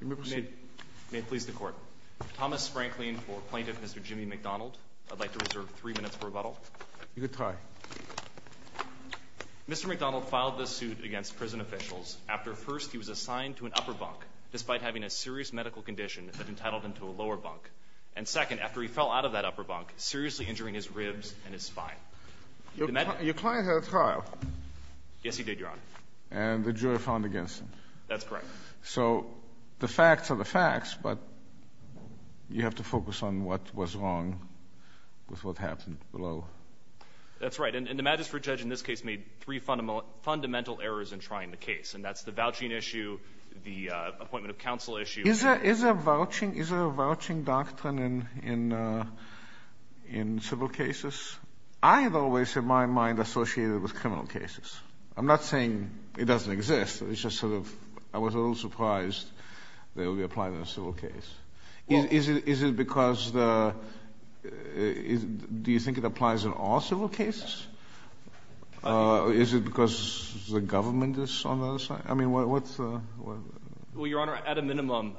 May it please the Court. Thomas Sprankling for Plaintiff Mr. Jimmy McDonald. I'd like to reserve three minutes for rebuttal. You could try. Mr. McDonald filed this suit against prison officials after first he was assigned to an upper bunk despite having a serious medical condition that entitled him to a lower bunk, and second, after he fell out of that upper bunk, seriously injuring his ribs and his spine. Your client had a trial. Yes he did, Your Honor. And the jury found against him. That's correct. So the facts are the facts, but you have to focus on what was wrong with what happened below. That's right, and the Magistrate Judge in this case made three fundamental errors in trying the case, and that's the vouching issue, the appointment of counsel issue. Is there a vouching doctrine in civil cases? I have always had my mind associated with criminal cases. I'm not saying it doesn't exist, it's just sort of, I was a little surprised that it would be applied in a civil case. Is it because the, do you think it applies in all civil cases? Is it because the government is on the other side? I mean, what's the? Well, Your Honor, at a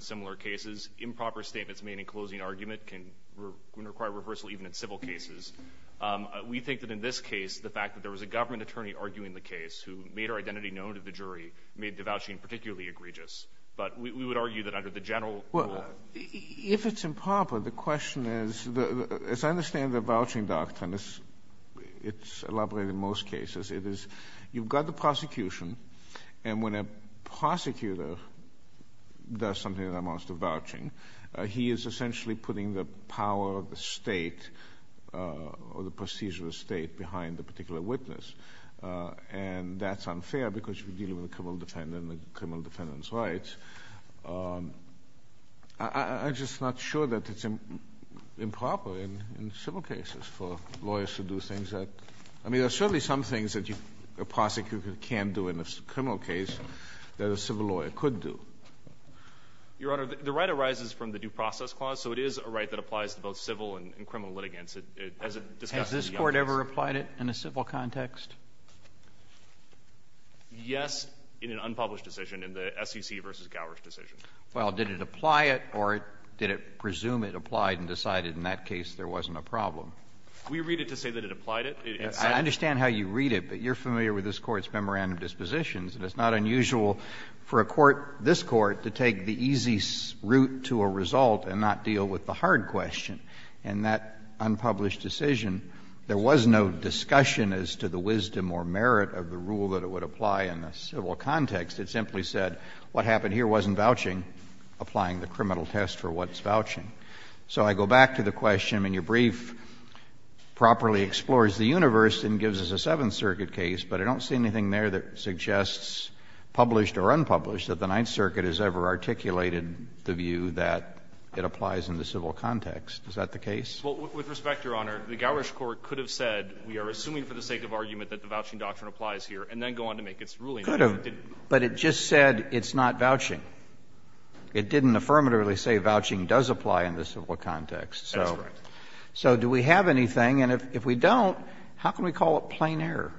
similar cases, improper statements made in closing argument can require rehearsal even in civil cases. We think that in this case, the fact that there was a government attorney arguing the case who made our identity known to the jury made the vouching particularly egregious. But we would argue that under the general rule. Well, if it's improper, the question is, as I understand the vouching doctrine, it's elaborated in most cases. It is, you've got the prosecution, and when a prosecutor does something that amounts to vouching, he is essentially putting the power of the State or the prestige of the State behind the particular witness. And that's unfair because you're dealing with a criminal defendant and the criminal defendant's rights. I'm just not sure that it's improper in civil cases for lawyers to do things that – I mean, there are certainly some things that a prosecutor can do in a criminal case that a civil lawyer could do. Your Honor, the right arises from the due process clause, so it is a right that applies to both civil and criminal litigants as it discusses the obvious. Has this Court ever applied it in a civil context? Yes, in an unpublished decision, in the SEC v. Gowers decision. Well, did it apply it or did it presume it applied and decided in that case there wasn't a problem? We read it to say that it applied it. I understand how you read it, but you're familiar with this Court's memorandum of dispositions. And it's not unusual for a court, this Court, to take the easy route to a result and not deal with the hard question. In that unpublished decision, there was no discussion as to the wisdom or merit of the rule that it would apply in a civil context. It simply said what happened here wasn't vouching, applying the criminal test for what's vouching. So I go back to the question. I mean, your brief properly explores the universe and gives us a Seventh Circuit case, but I don't see anything there that suggests, published or unpublished, that the Ninth Circuit has ever articulated the view that it applies in the civil context. Is that the case? Well, with respect, Your Honor, the Gowers Court could have said, we are assuming for the sake of argument that the vouching doctrine applies here, and then go on to make its ruling. It could have, but it just said it's not vouching. It didn't affirmatively say vouching does apply in the civil context. So do we have anything, and if we don't, how can we call it plain error?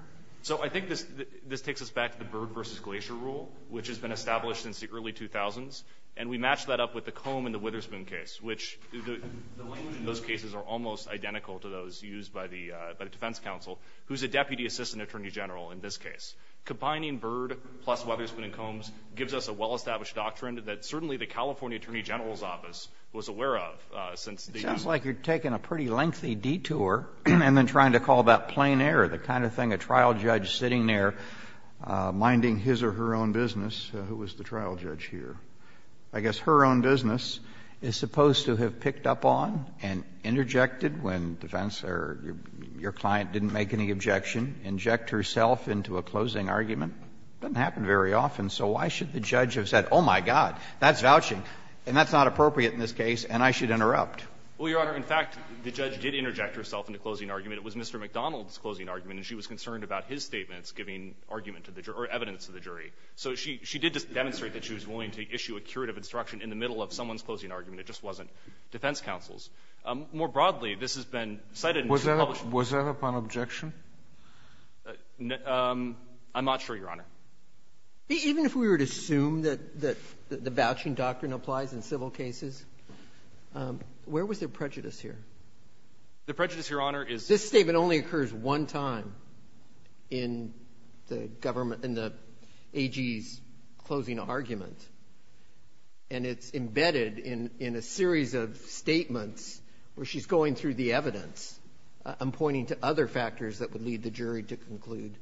So I think this takes us back to the Byrd v. Glacier rule, which has been established since the early 2000s, and we match that up with the Comb and the Witherspoon case, which the language in those cases are almost identical to those used by the defense counsel, who's a deputy assistant attorney general in this case. Combining Byrd plus Witherspoon and Combs gives us a well-established doctrine that certainly the California attorney general's office was aware of since the years ago. It sounds like you're taking a pretty lengthy detour and then trying to call that person a trial judge sitting there, minding his or her own business, who was the trial judge here. I guess her own business is supposed to have picked up on and interjected when defense or your client didn't make any objection, inject herself into a closing argument. It doesn't happen very often, so why should the judge have said, oh, my God, that's vouching, and that's not appropriate in this case, and I should interrupt? Well, Your Honor, in fact, the judge did interject herself in the closing argument. It was Mr. McDonald's closing argument, and she was concerned about his statements giving argument to the jury or evidence to the jury. So she did just demonstrate that she was willing to issue a curative instruction in the middle of someone's closing argument. It just wasn't defense counsel's. More broadly, this has been cited in two published versions. Was that upon objection? I'm not sure, Your Honor. Even if we were to assume that the vouching doctrine applies in civil cases, where was there prejudice here? The prejudice, Your Honor, is the statement only occurs one time in the government and the AG's closing argument, and it's embedded in a series of statements where she's going through the evidence and pointing to other factors that would lead the jury to conclude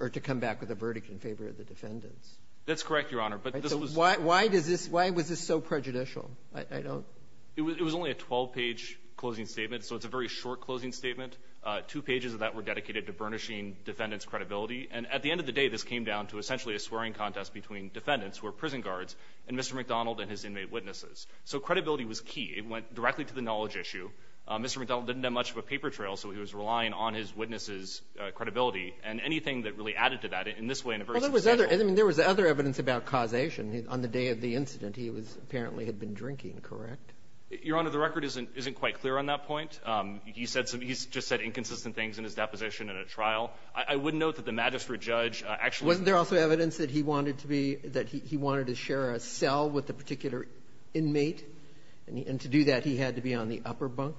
or to come back with a verdict in favor of the defendants. That's correct, Your Honor. But this was why does this why was this so prejudicial? I don't It was only a 12-page closing statement, so it's a very short closing statement. Two pages of that were dedicated to burnishing defendant's credibility. And at the end of the day, this came down to essentially a swearing contest between defendants who are prison guards and Mr. McDonald and his inmate witnesses. So credibility was key. It went directly to the knowledge issue. Mr. McDonald didn't have much of a paper trail, so he was relying on his witness's And anything that really added to that in this way in a very substantial way. Well, there was other evidence about causation. On the day of the incident, he was apparently had been drinking, correct? Your Honor, the record isn't quite clear on that point. He said some he's just said inconsistent things in his deposition in a trial. I would note that the magistrate judge actually Wasn't there also evidence that he wanted to be that he wanted to share a cell with the particular inmate? And to do that, he had to be on the upper bunk?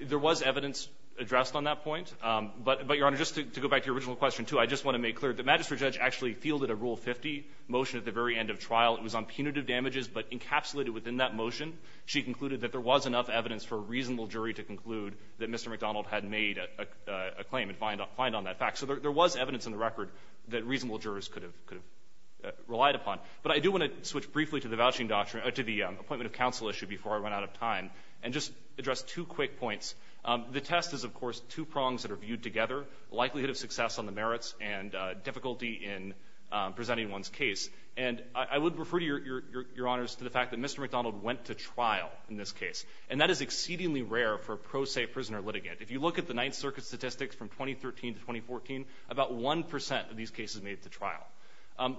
There was evidence addressed on that point. But, Your Honor, just to go back to your original question, too, I just want to make clear that the magistrate judge actually fielded a Rule 50 motion at the very end of trial. It was on punitive damages, but encapsulated within that motion, she concluded that there was enough evidence for a reasonable jury to conclude that Mr. McDonald had made a claim and fined on that fact. So there was evidence in the record that reasonable jurors could have relied upon. But I do want to switch briefly to the vouching doctrine or to the appointment of counsel issue before I run out of time and just address two quick points. The test is, of course, two prongs that are viewed together, likelihood of success on the merits and difficulty in presenting one's case. And I would refer to your Honor's to the fact that Mr. McDonald went to trial in this case. And that is exceedingly rare for a pro se prisoner litigant. If you look at the Ninth Circuit statistics from 2013 to 2014, about 1 percent of these cases made it to trial.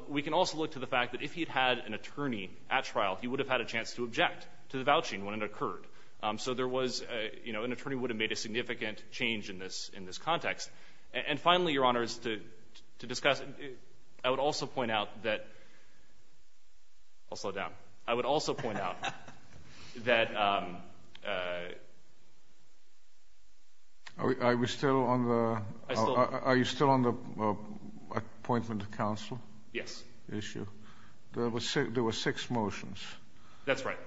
We can also look to the fact that if he had had an attorney at trial, he would have had a chance to object to the vouching when it occurred. So there was, you know, an attorney would have made a significant change in this context. And finally, Your Honor, is to discuss, I would also point out that, I'll slow down. I would also point out that, I was still on the, I still, are you still on the appointment of counsel? Yes. Issue. There were six motions. That's right.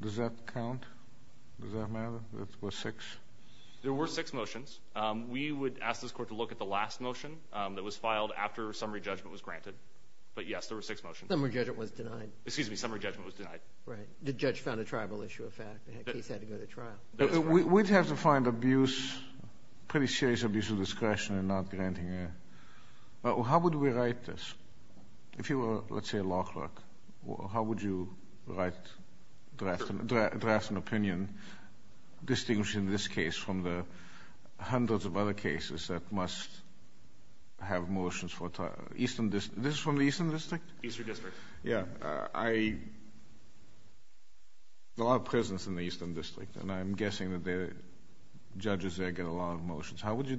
Does that count? Does that matter? There were six? There were six motions. We would ask this Court to look at the last motion that was filed after summary judgment was granted. But yes, there were six motions. Summary judgment was denied. Excuse me. Summary judgment was denied. Right. The judge found a tribal issue a fact. The case had to go to trial. We'd have to find abuse, pretty serious abuse of discretion in not granting a, how would we write this? If you were, let's say, a law clerk, how would you write, draft an opinion distinguishing this case from the hundreds of other cases that must have motions for trial? Eastern, this is from the Eastern District? Eastern District. Yeah. I, there are prisons in the Eastern District, and I'm guessing that the judges there get a lot of motions. How would you,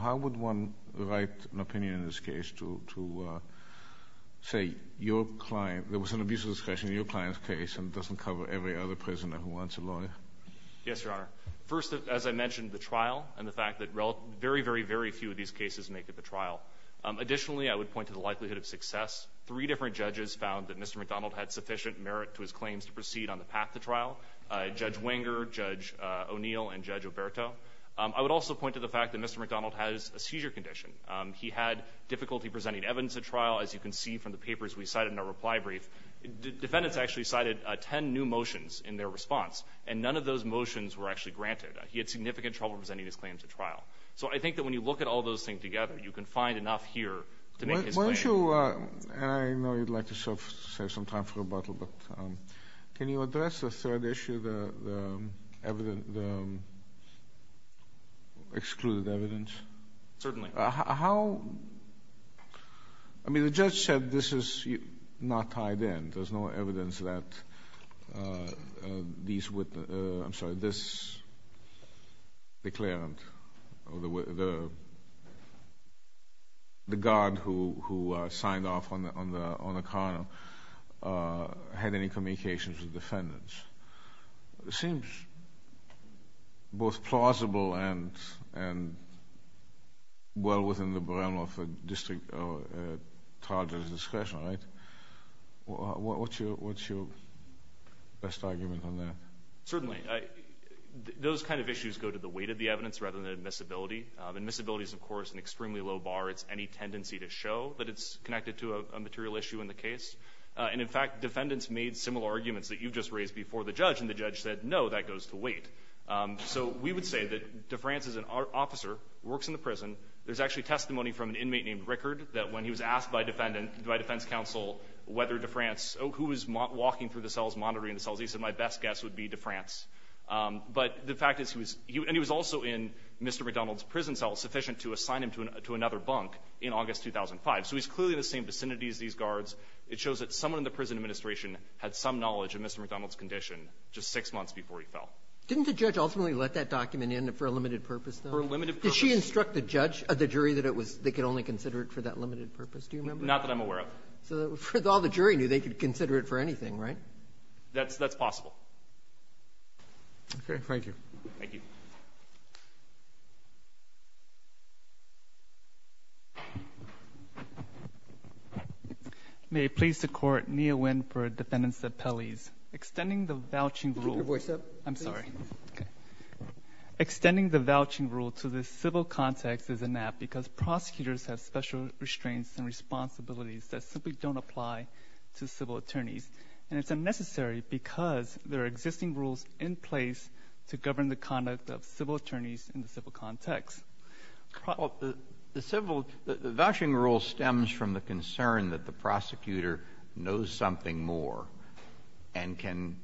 how would one write an opinion in this case to say your client, there was an abuse of discretion in your client's case, and it doesn't cover every other prisoner who wants a lawyer? Yes, Your Honor. First, as I mentioned, the trial and the fact that very, very, very few of these cases make it to trial. Additionally, I would point to the likelihood of success. Three different judges found that Mr. McDonald had sufficient merit to his claims to proceed on the path to trial, Judge Wenger, Judge O'Neill, and Judge Oberto. I would also point to the fact that Mr. McDonald has a seizure condition. He had difficulty presenting evidence at trial, as you can see from the papers we cited in our reply brief. Defendants actually cited 10 new motions in their response, and none of those motions were actually granted. He had significant trouble presenting his claims at trial. So I think that when you look at all those things together, you can find enough here to make his claim. One issue, and I know you'd like to save some time for rebuttal, but can you address the third issue, the excluded evidence? Certainly. How? I mean, the judge said this is not tied in. There's no evidence that these witnesses, I'm sorry, this declarant, or the guard who signed off on the car had any communications with defendants. It seems both plausible and well within the realm of the district charge's discretion, right? What's your best argument on that? Certainly. Those kind of issues go to the weight of the evidence rather than admissibility. Admissibility is, of course, an extremely low bar. It's any tendency to show that it's connected to a material issue in the case. And in fact, defendants made similar arguments that you just raised before the judge, and the judge said, no, that goes to weight. So we would say that DeFrance is an officer, works in the prison. There's actually testimony from an inmate named Rickard that when he was asked by defense counsel whether DeFrance, who was walking through the cells, monitoring the cells, he said, my best guess would be DeFrance. But the fact is, and he was also in Mr. McDonald's prison cell sufficient to assign him to another bunk in August 2005. So he's clearly in the same vicinity as these guards. It shows that someone in the prison administration had some knowledge of Mr. McDonald's condition just six months before he fell. Didn't the judge ultimately let that document in for a limited purpose, though? For a limited purpose. Did she instruct the judge, the jury, that it was they could only consider it for that limited purpose? Do you remember? Not that I'm aware of. So all the jury knew they could consider it for anything, right? That's possible. Okay. Thank you. Thank you. May it please the Court, Nia Nguyen for defendants' appellees. Extending the vouching rule to the civil context is inappropriate because prosecutors have special restraints and responsibilities that simply don't apply to civil attorneys. And it's unnecessary because there are existing rules in place to govern the conduct of civil attorneys in the civil context. The civil — the vouching rule stems from the concern that the prosecutor knows something more and can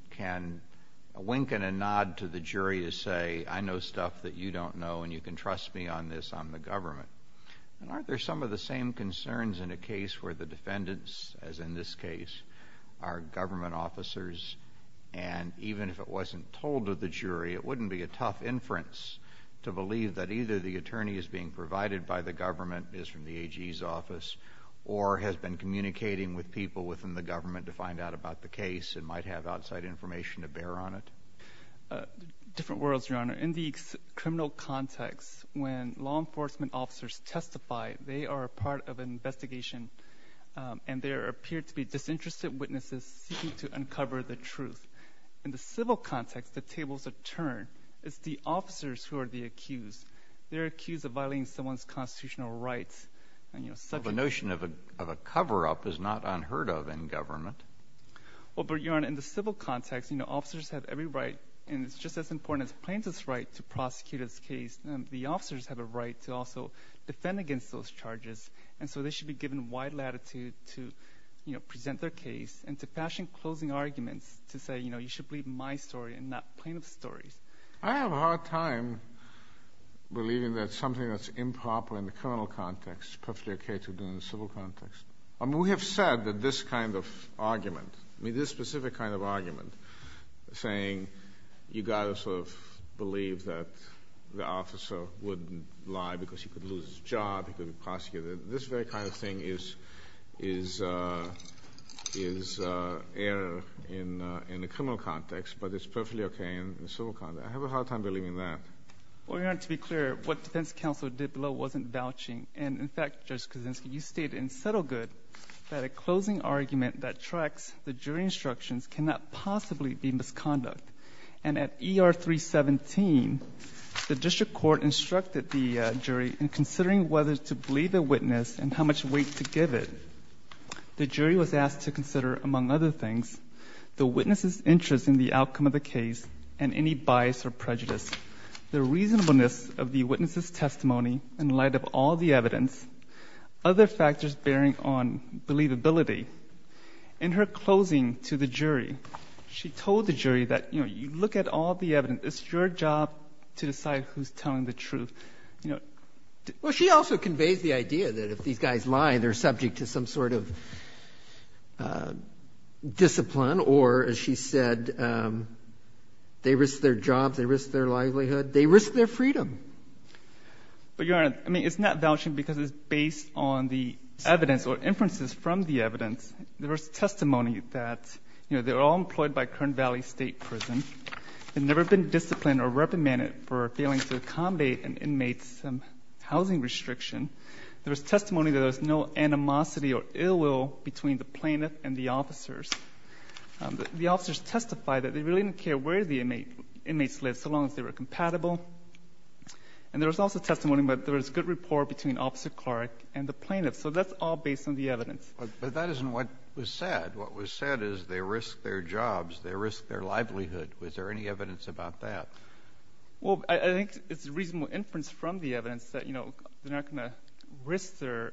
wink and a nod to the jury to say, I know stuff that you don't know and you can trust me on this on the government. And aren't there some of the same concerns in a case where the defendants, as in this case, are government officers and even if it wasn't told to the jury, it wouldn't be a tough inference to believe that either the attorney is being provided by the government, is from the AG's office, or has been communicating with people within the government to find out about the case and might have outside information to bear on it? Different worlds, Your Honor. In the criminal context, when law enforcement officers testify, they are a part of an investigation and there appear to be disinterested witnesses seeking to uncover the truth. In the civil context, the tables are turned. It's the officers who are the accused. They're accused of violating someone's constitutional rights and, you know, subject — The notion of a cover-up is not unheard of in government. Well, but, Your Honor, in the civil context, you know, officers have every right, and it's just as important as plaintiff's right to prosecute this case. The officers have a right to also defend against those charges, and so they should be given wide latitude to, you know, present their case and to fashion closing arguments to say, you know, you should believe my story and not plaintiff's story. I have a hard time believing that something that's improper in the criminal context is perfectly okay to do in the civil context. I mean, we have said that this kind of argument, I mean, this specific kind of argument, saying you got to sort of believe that the officer wouldn't lie because he could lose his job, he could prosecute it, this very kind of thing is — is — is error in — in the criminal context, but it's perfectly okay in the civil context. I have a hard time believing that. Well, Your Honor, to be clear, what defense counsel did below wasn't vouching. And, in fact, Judge Kuczynski, you stated in Settlegood that a closing argument that tracks the jury instructions cannot possibly be misconduct. And at ER 317, the district court instructed the jury in considering whether to believe a witness and how much weight to give it. The jury was asked to consider, among other things, the witness's interest in the outcome of the case and any bias or prejudice, the reasonableness of the witness's testimony in light of all the evidence, other factors bearing on believability. In her closing to the jury, she told the jury that, you know, you look at all the evidence. It's your job to decide who's telling the truth. You know, to — Well, she also conveys the idea that if these guys lie, they're subject to some sort of discipline or, as she said, they risk their jobs, they risk their livelihood, they risk their freedom. But, Your Honor, I mean, it's not vouching because it's based on the evidence or inferences from the evidence. There was testimony that, you know, they're all employed by Kern Valley State Prison. They've never been disciplined or reprimanded for failing to accommodate an inmate's housing restriction. There was testimony that there was no animosity or ill will between the plaintiff and the officers. The officers testified that they really didn't care where the inmates lived so long as they were compatible. And there was also testimony that there was good rapport between Officer Clark and the plaintiff. So that's all based on the evidence. But that isn't what was said. What was said is they risked their jobs, they risked their livelihood. Was there any evidence about that? Well, I think it's reasonable inference from the evidence that, you know, they're not going to risk their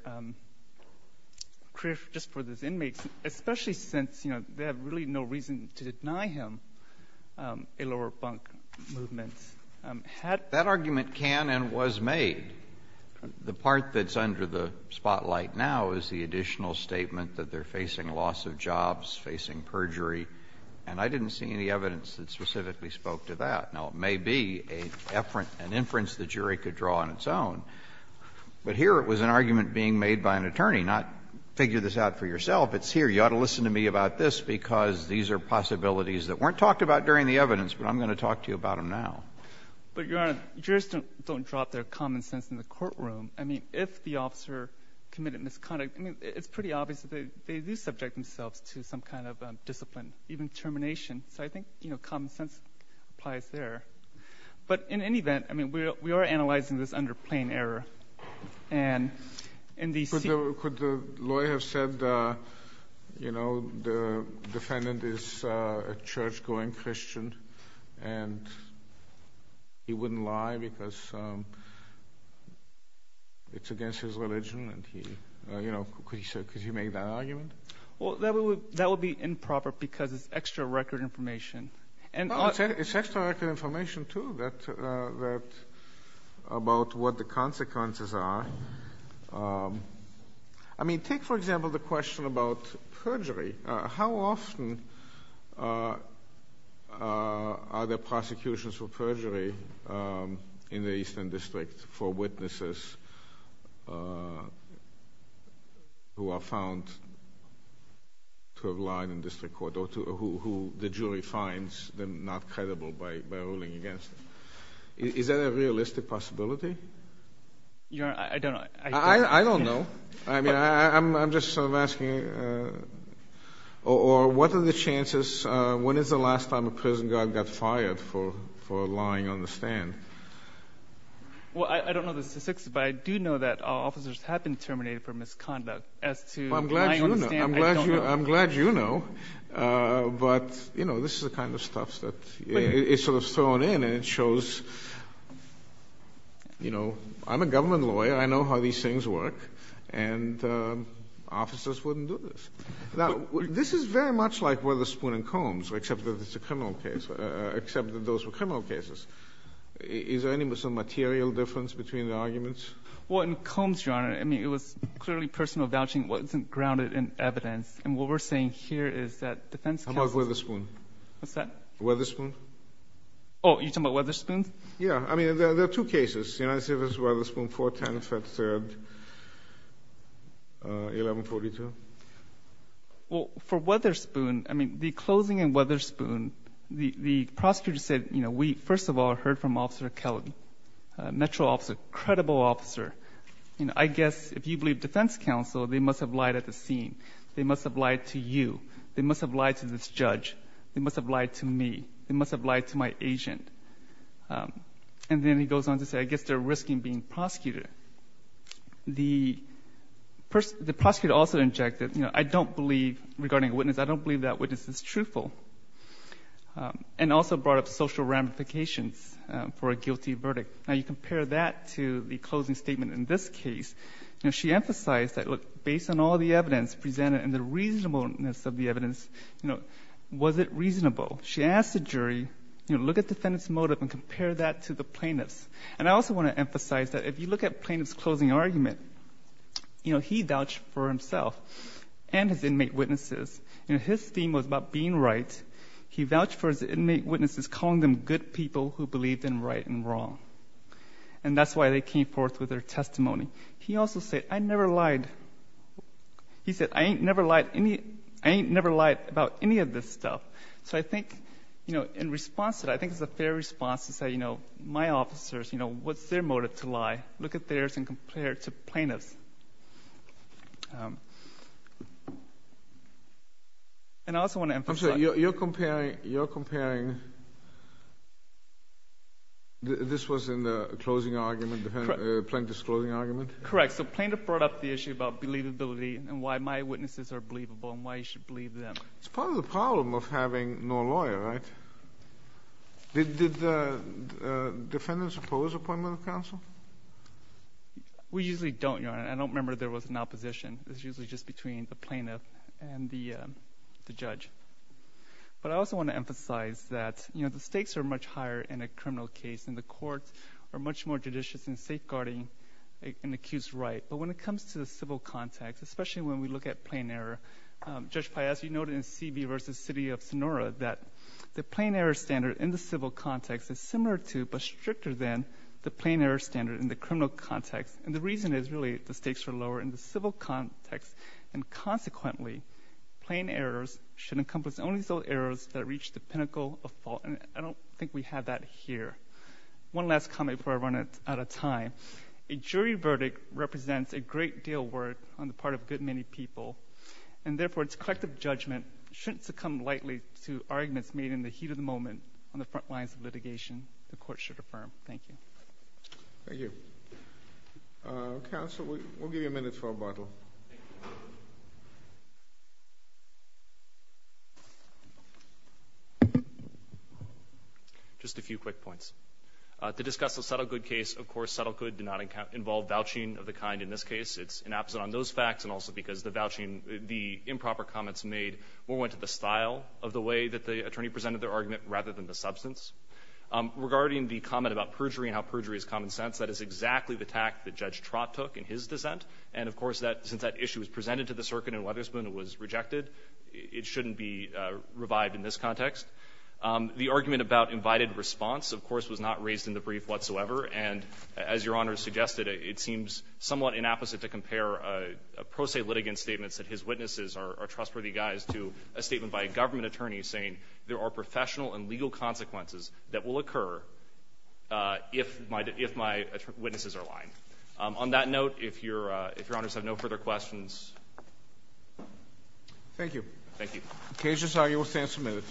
career just for those inmates, especially since, you know, they have really no reason to deny him a lower bunk movement. Had — I mean, I think what we're seeing right now is the additional statement that they're facing loss of jobs, facing perjury, and I didn't see any evidence that specifically spoke to that. Now, it may be an inference the jury could draw on its own, but here it was an argument being made by an attorney, not figure this out for yourself. It's here. You ought to listen to me about this because these are possibilities that weren't talked about during the evidence, but I'm going to talk to you about them now. But, Your Honor, jurors don't drop their common sense in the courtroom. I mean, if the officer committed misconduct, I mean, it's pretty obvious that they do subject themselves to some kind of discipline, even termination. So I think, you know, common sense applies there. But in any event, I mean, we are analyzing this under plain error. And in the sense of the court, the lawyer said, you know, the defendant is a church-going Christian, and he wouldn't lie because it's against his religion. And he, you know, could he make that argument? Well, that would be improper because it's extra record information. It's extra record information, too, about what the consequences are. I mean, take, for example, the question about perjury. How often are there prosecutions for perjury in the Eastern District for witnesses who are found to have lied in district court or who the jury finds them not credible by ruling against them? Is that a realistic possibility? Your Honor, I don't know. I don't know. I mean, I'm just sort of asking, or what are the chances, when is the last time a prison guard got fired for lying on the stand? Well, I don't know the statistics, but I do know that officers have been terminated for misconduct as to lying on the stand. I'm glad you know. I don't know. I'm glad you know. But, you know, this is the kind of stuff that is sort of thrown in, and it shows, you know, I'm a government lawyer. I know how these things work, and officers wouldn't do this. Now, this is very much like Witherspoon and Combs, except that it's a criminal case, except that those were criminal cases. Is there any material difference between the arguments? Well, in Combs, Your Honor, I mean, it was clearly personal vouching. It wasn't grounded in evidence, and what we're saying here is that defense counsels How about Witherspoon? What's that? Witherspoon. Oh, you're talking about Witherspoon? Yeah. I mean, there are two cases. United States v. Witherspoon, 4-10, 5-3, 11-42. Well, for Witherspoon, I mean, the closing in Witherspoon, the prosecutor said, you know, we, first of all, heard from Officer Kelly, Metro officer, credible officer. You know, I guess if you believe defense counsel, they must have lied at the scene. They must have lied to you. They must have lied to this judge. They must have lied to me. They must have lied to my agent. And then he goes on to say, I guess they're risking being prosecuted. The prosecutor also injected, you know, I don't believe regarding a witness, I don't believe that witness is truthful, and also brought up social ramifications for a guilty verdict. Now, you compare that to the closing statement in this case. You know, she emphasized that, look, based on all the evidence presented and the reasonableness of the evidence, you know, was it reasonable? She asked the jury, you know, look at defendant's motive and compare that to the plaintiff's. And I also want to emphasize that if you look at plaintiff's closing argument, you know, he vouched for himself and his inmate witnesses. You know, his theme was about being right. He vouched for his inmate witnesses, calling them good people who believed in right and wrong. And that's why they came forth with their testimony. He also said, I never lied. He said, I ain't never lied about any of this stuff. So I think, you know, in response to that, I think it's a fair response to say, you know, my officers, you know, what's their motive to lie? Look at theirs and compare it to plaintiff's. And I also want to emphasize. You're comparing, you're comparing, this was in the closing argument, plaintiff's closing argument? Correct. So plaintiff brought up the issue about believability and why my witnesses are believable and why you should believe them. It's part of the problem of having no lawyer, right? Did defendants oppose appointment of counsel? We usually don't, Your Honor. I don't remember there was an opposition. It's usually just between the plaintiff and the judge. But I also want to emphasize that, you know, the stakes are much higher in a criminal case and the courts are much more judicious in safeguarding an accused right. But when it comes to the civil context, especially when we look at plain error, Judge Pai, as you noted in C.B. versus City of Sonora, that the plain error standard in the civil context is similar to but stricter than the plain error standard in the criminal context. And the reason is, really, the stakes are lower in the civil context, and consequently, plain errors should encompass only those errors that reach the pinnacle of fault. And I don't think we have that here. One last comment before I run out of time. A jury verdict represents a great deal of work on the part of a good many people. And therefore, its collective judgment shouldn't succumb lightly to arguments made in the heat of the moment on the front lines of litigation the court should affirm. Thank you. Thank you. Counsel, we'll give you a minute for rebuttal. Just a few quick points. To discuss the Settlegood case, of course, Settlegood did not involve vouching of the kind in this case. It's inapposite on those facts and also because the vouching, the improper comments made more went to the style of the way that the attorney presented their argument rather than the substance. Regarding the comment about perjury and how perjury is common sense, that is exactly the tact that Judge Trott took in his dissent. And, of course, since that issue was presented to the circuit and Weatherspoon was rejected, it shouldn't be revived in this context. The argument about invited response, of course, was not raised in the brief whatsoever. And as Your Honor has suggested, it seems somewhat inapposite to compare pro se litigant statements that his witnesses are trustworthy guys to a statement by a government attorney saying there are professional and legal consequences that will occur if my witnesses are lying. On that note, if Your Honors have no further questions. Thank you. Thank you. The case is argued. We'll stand for a minute.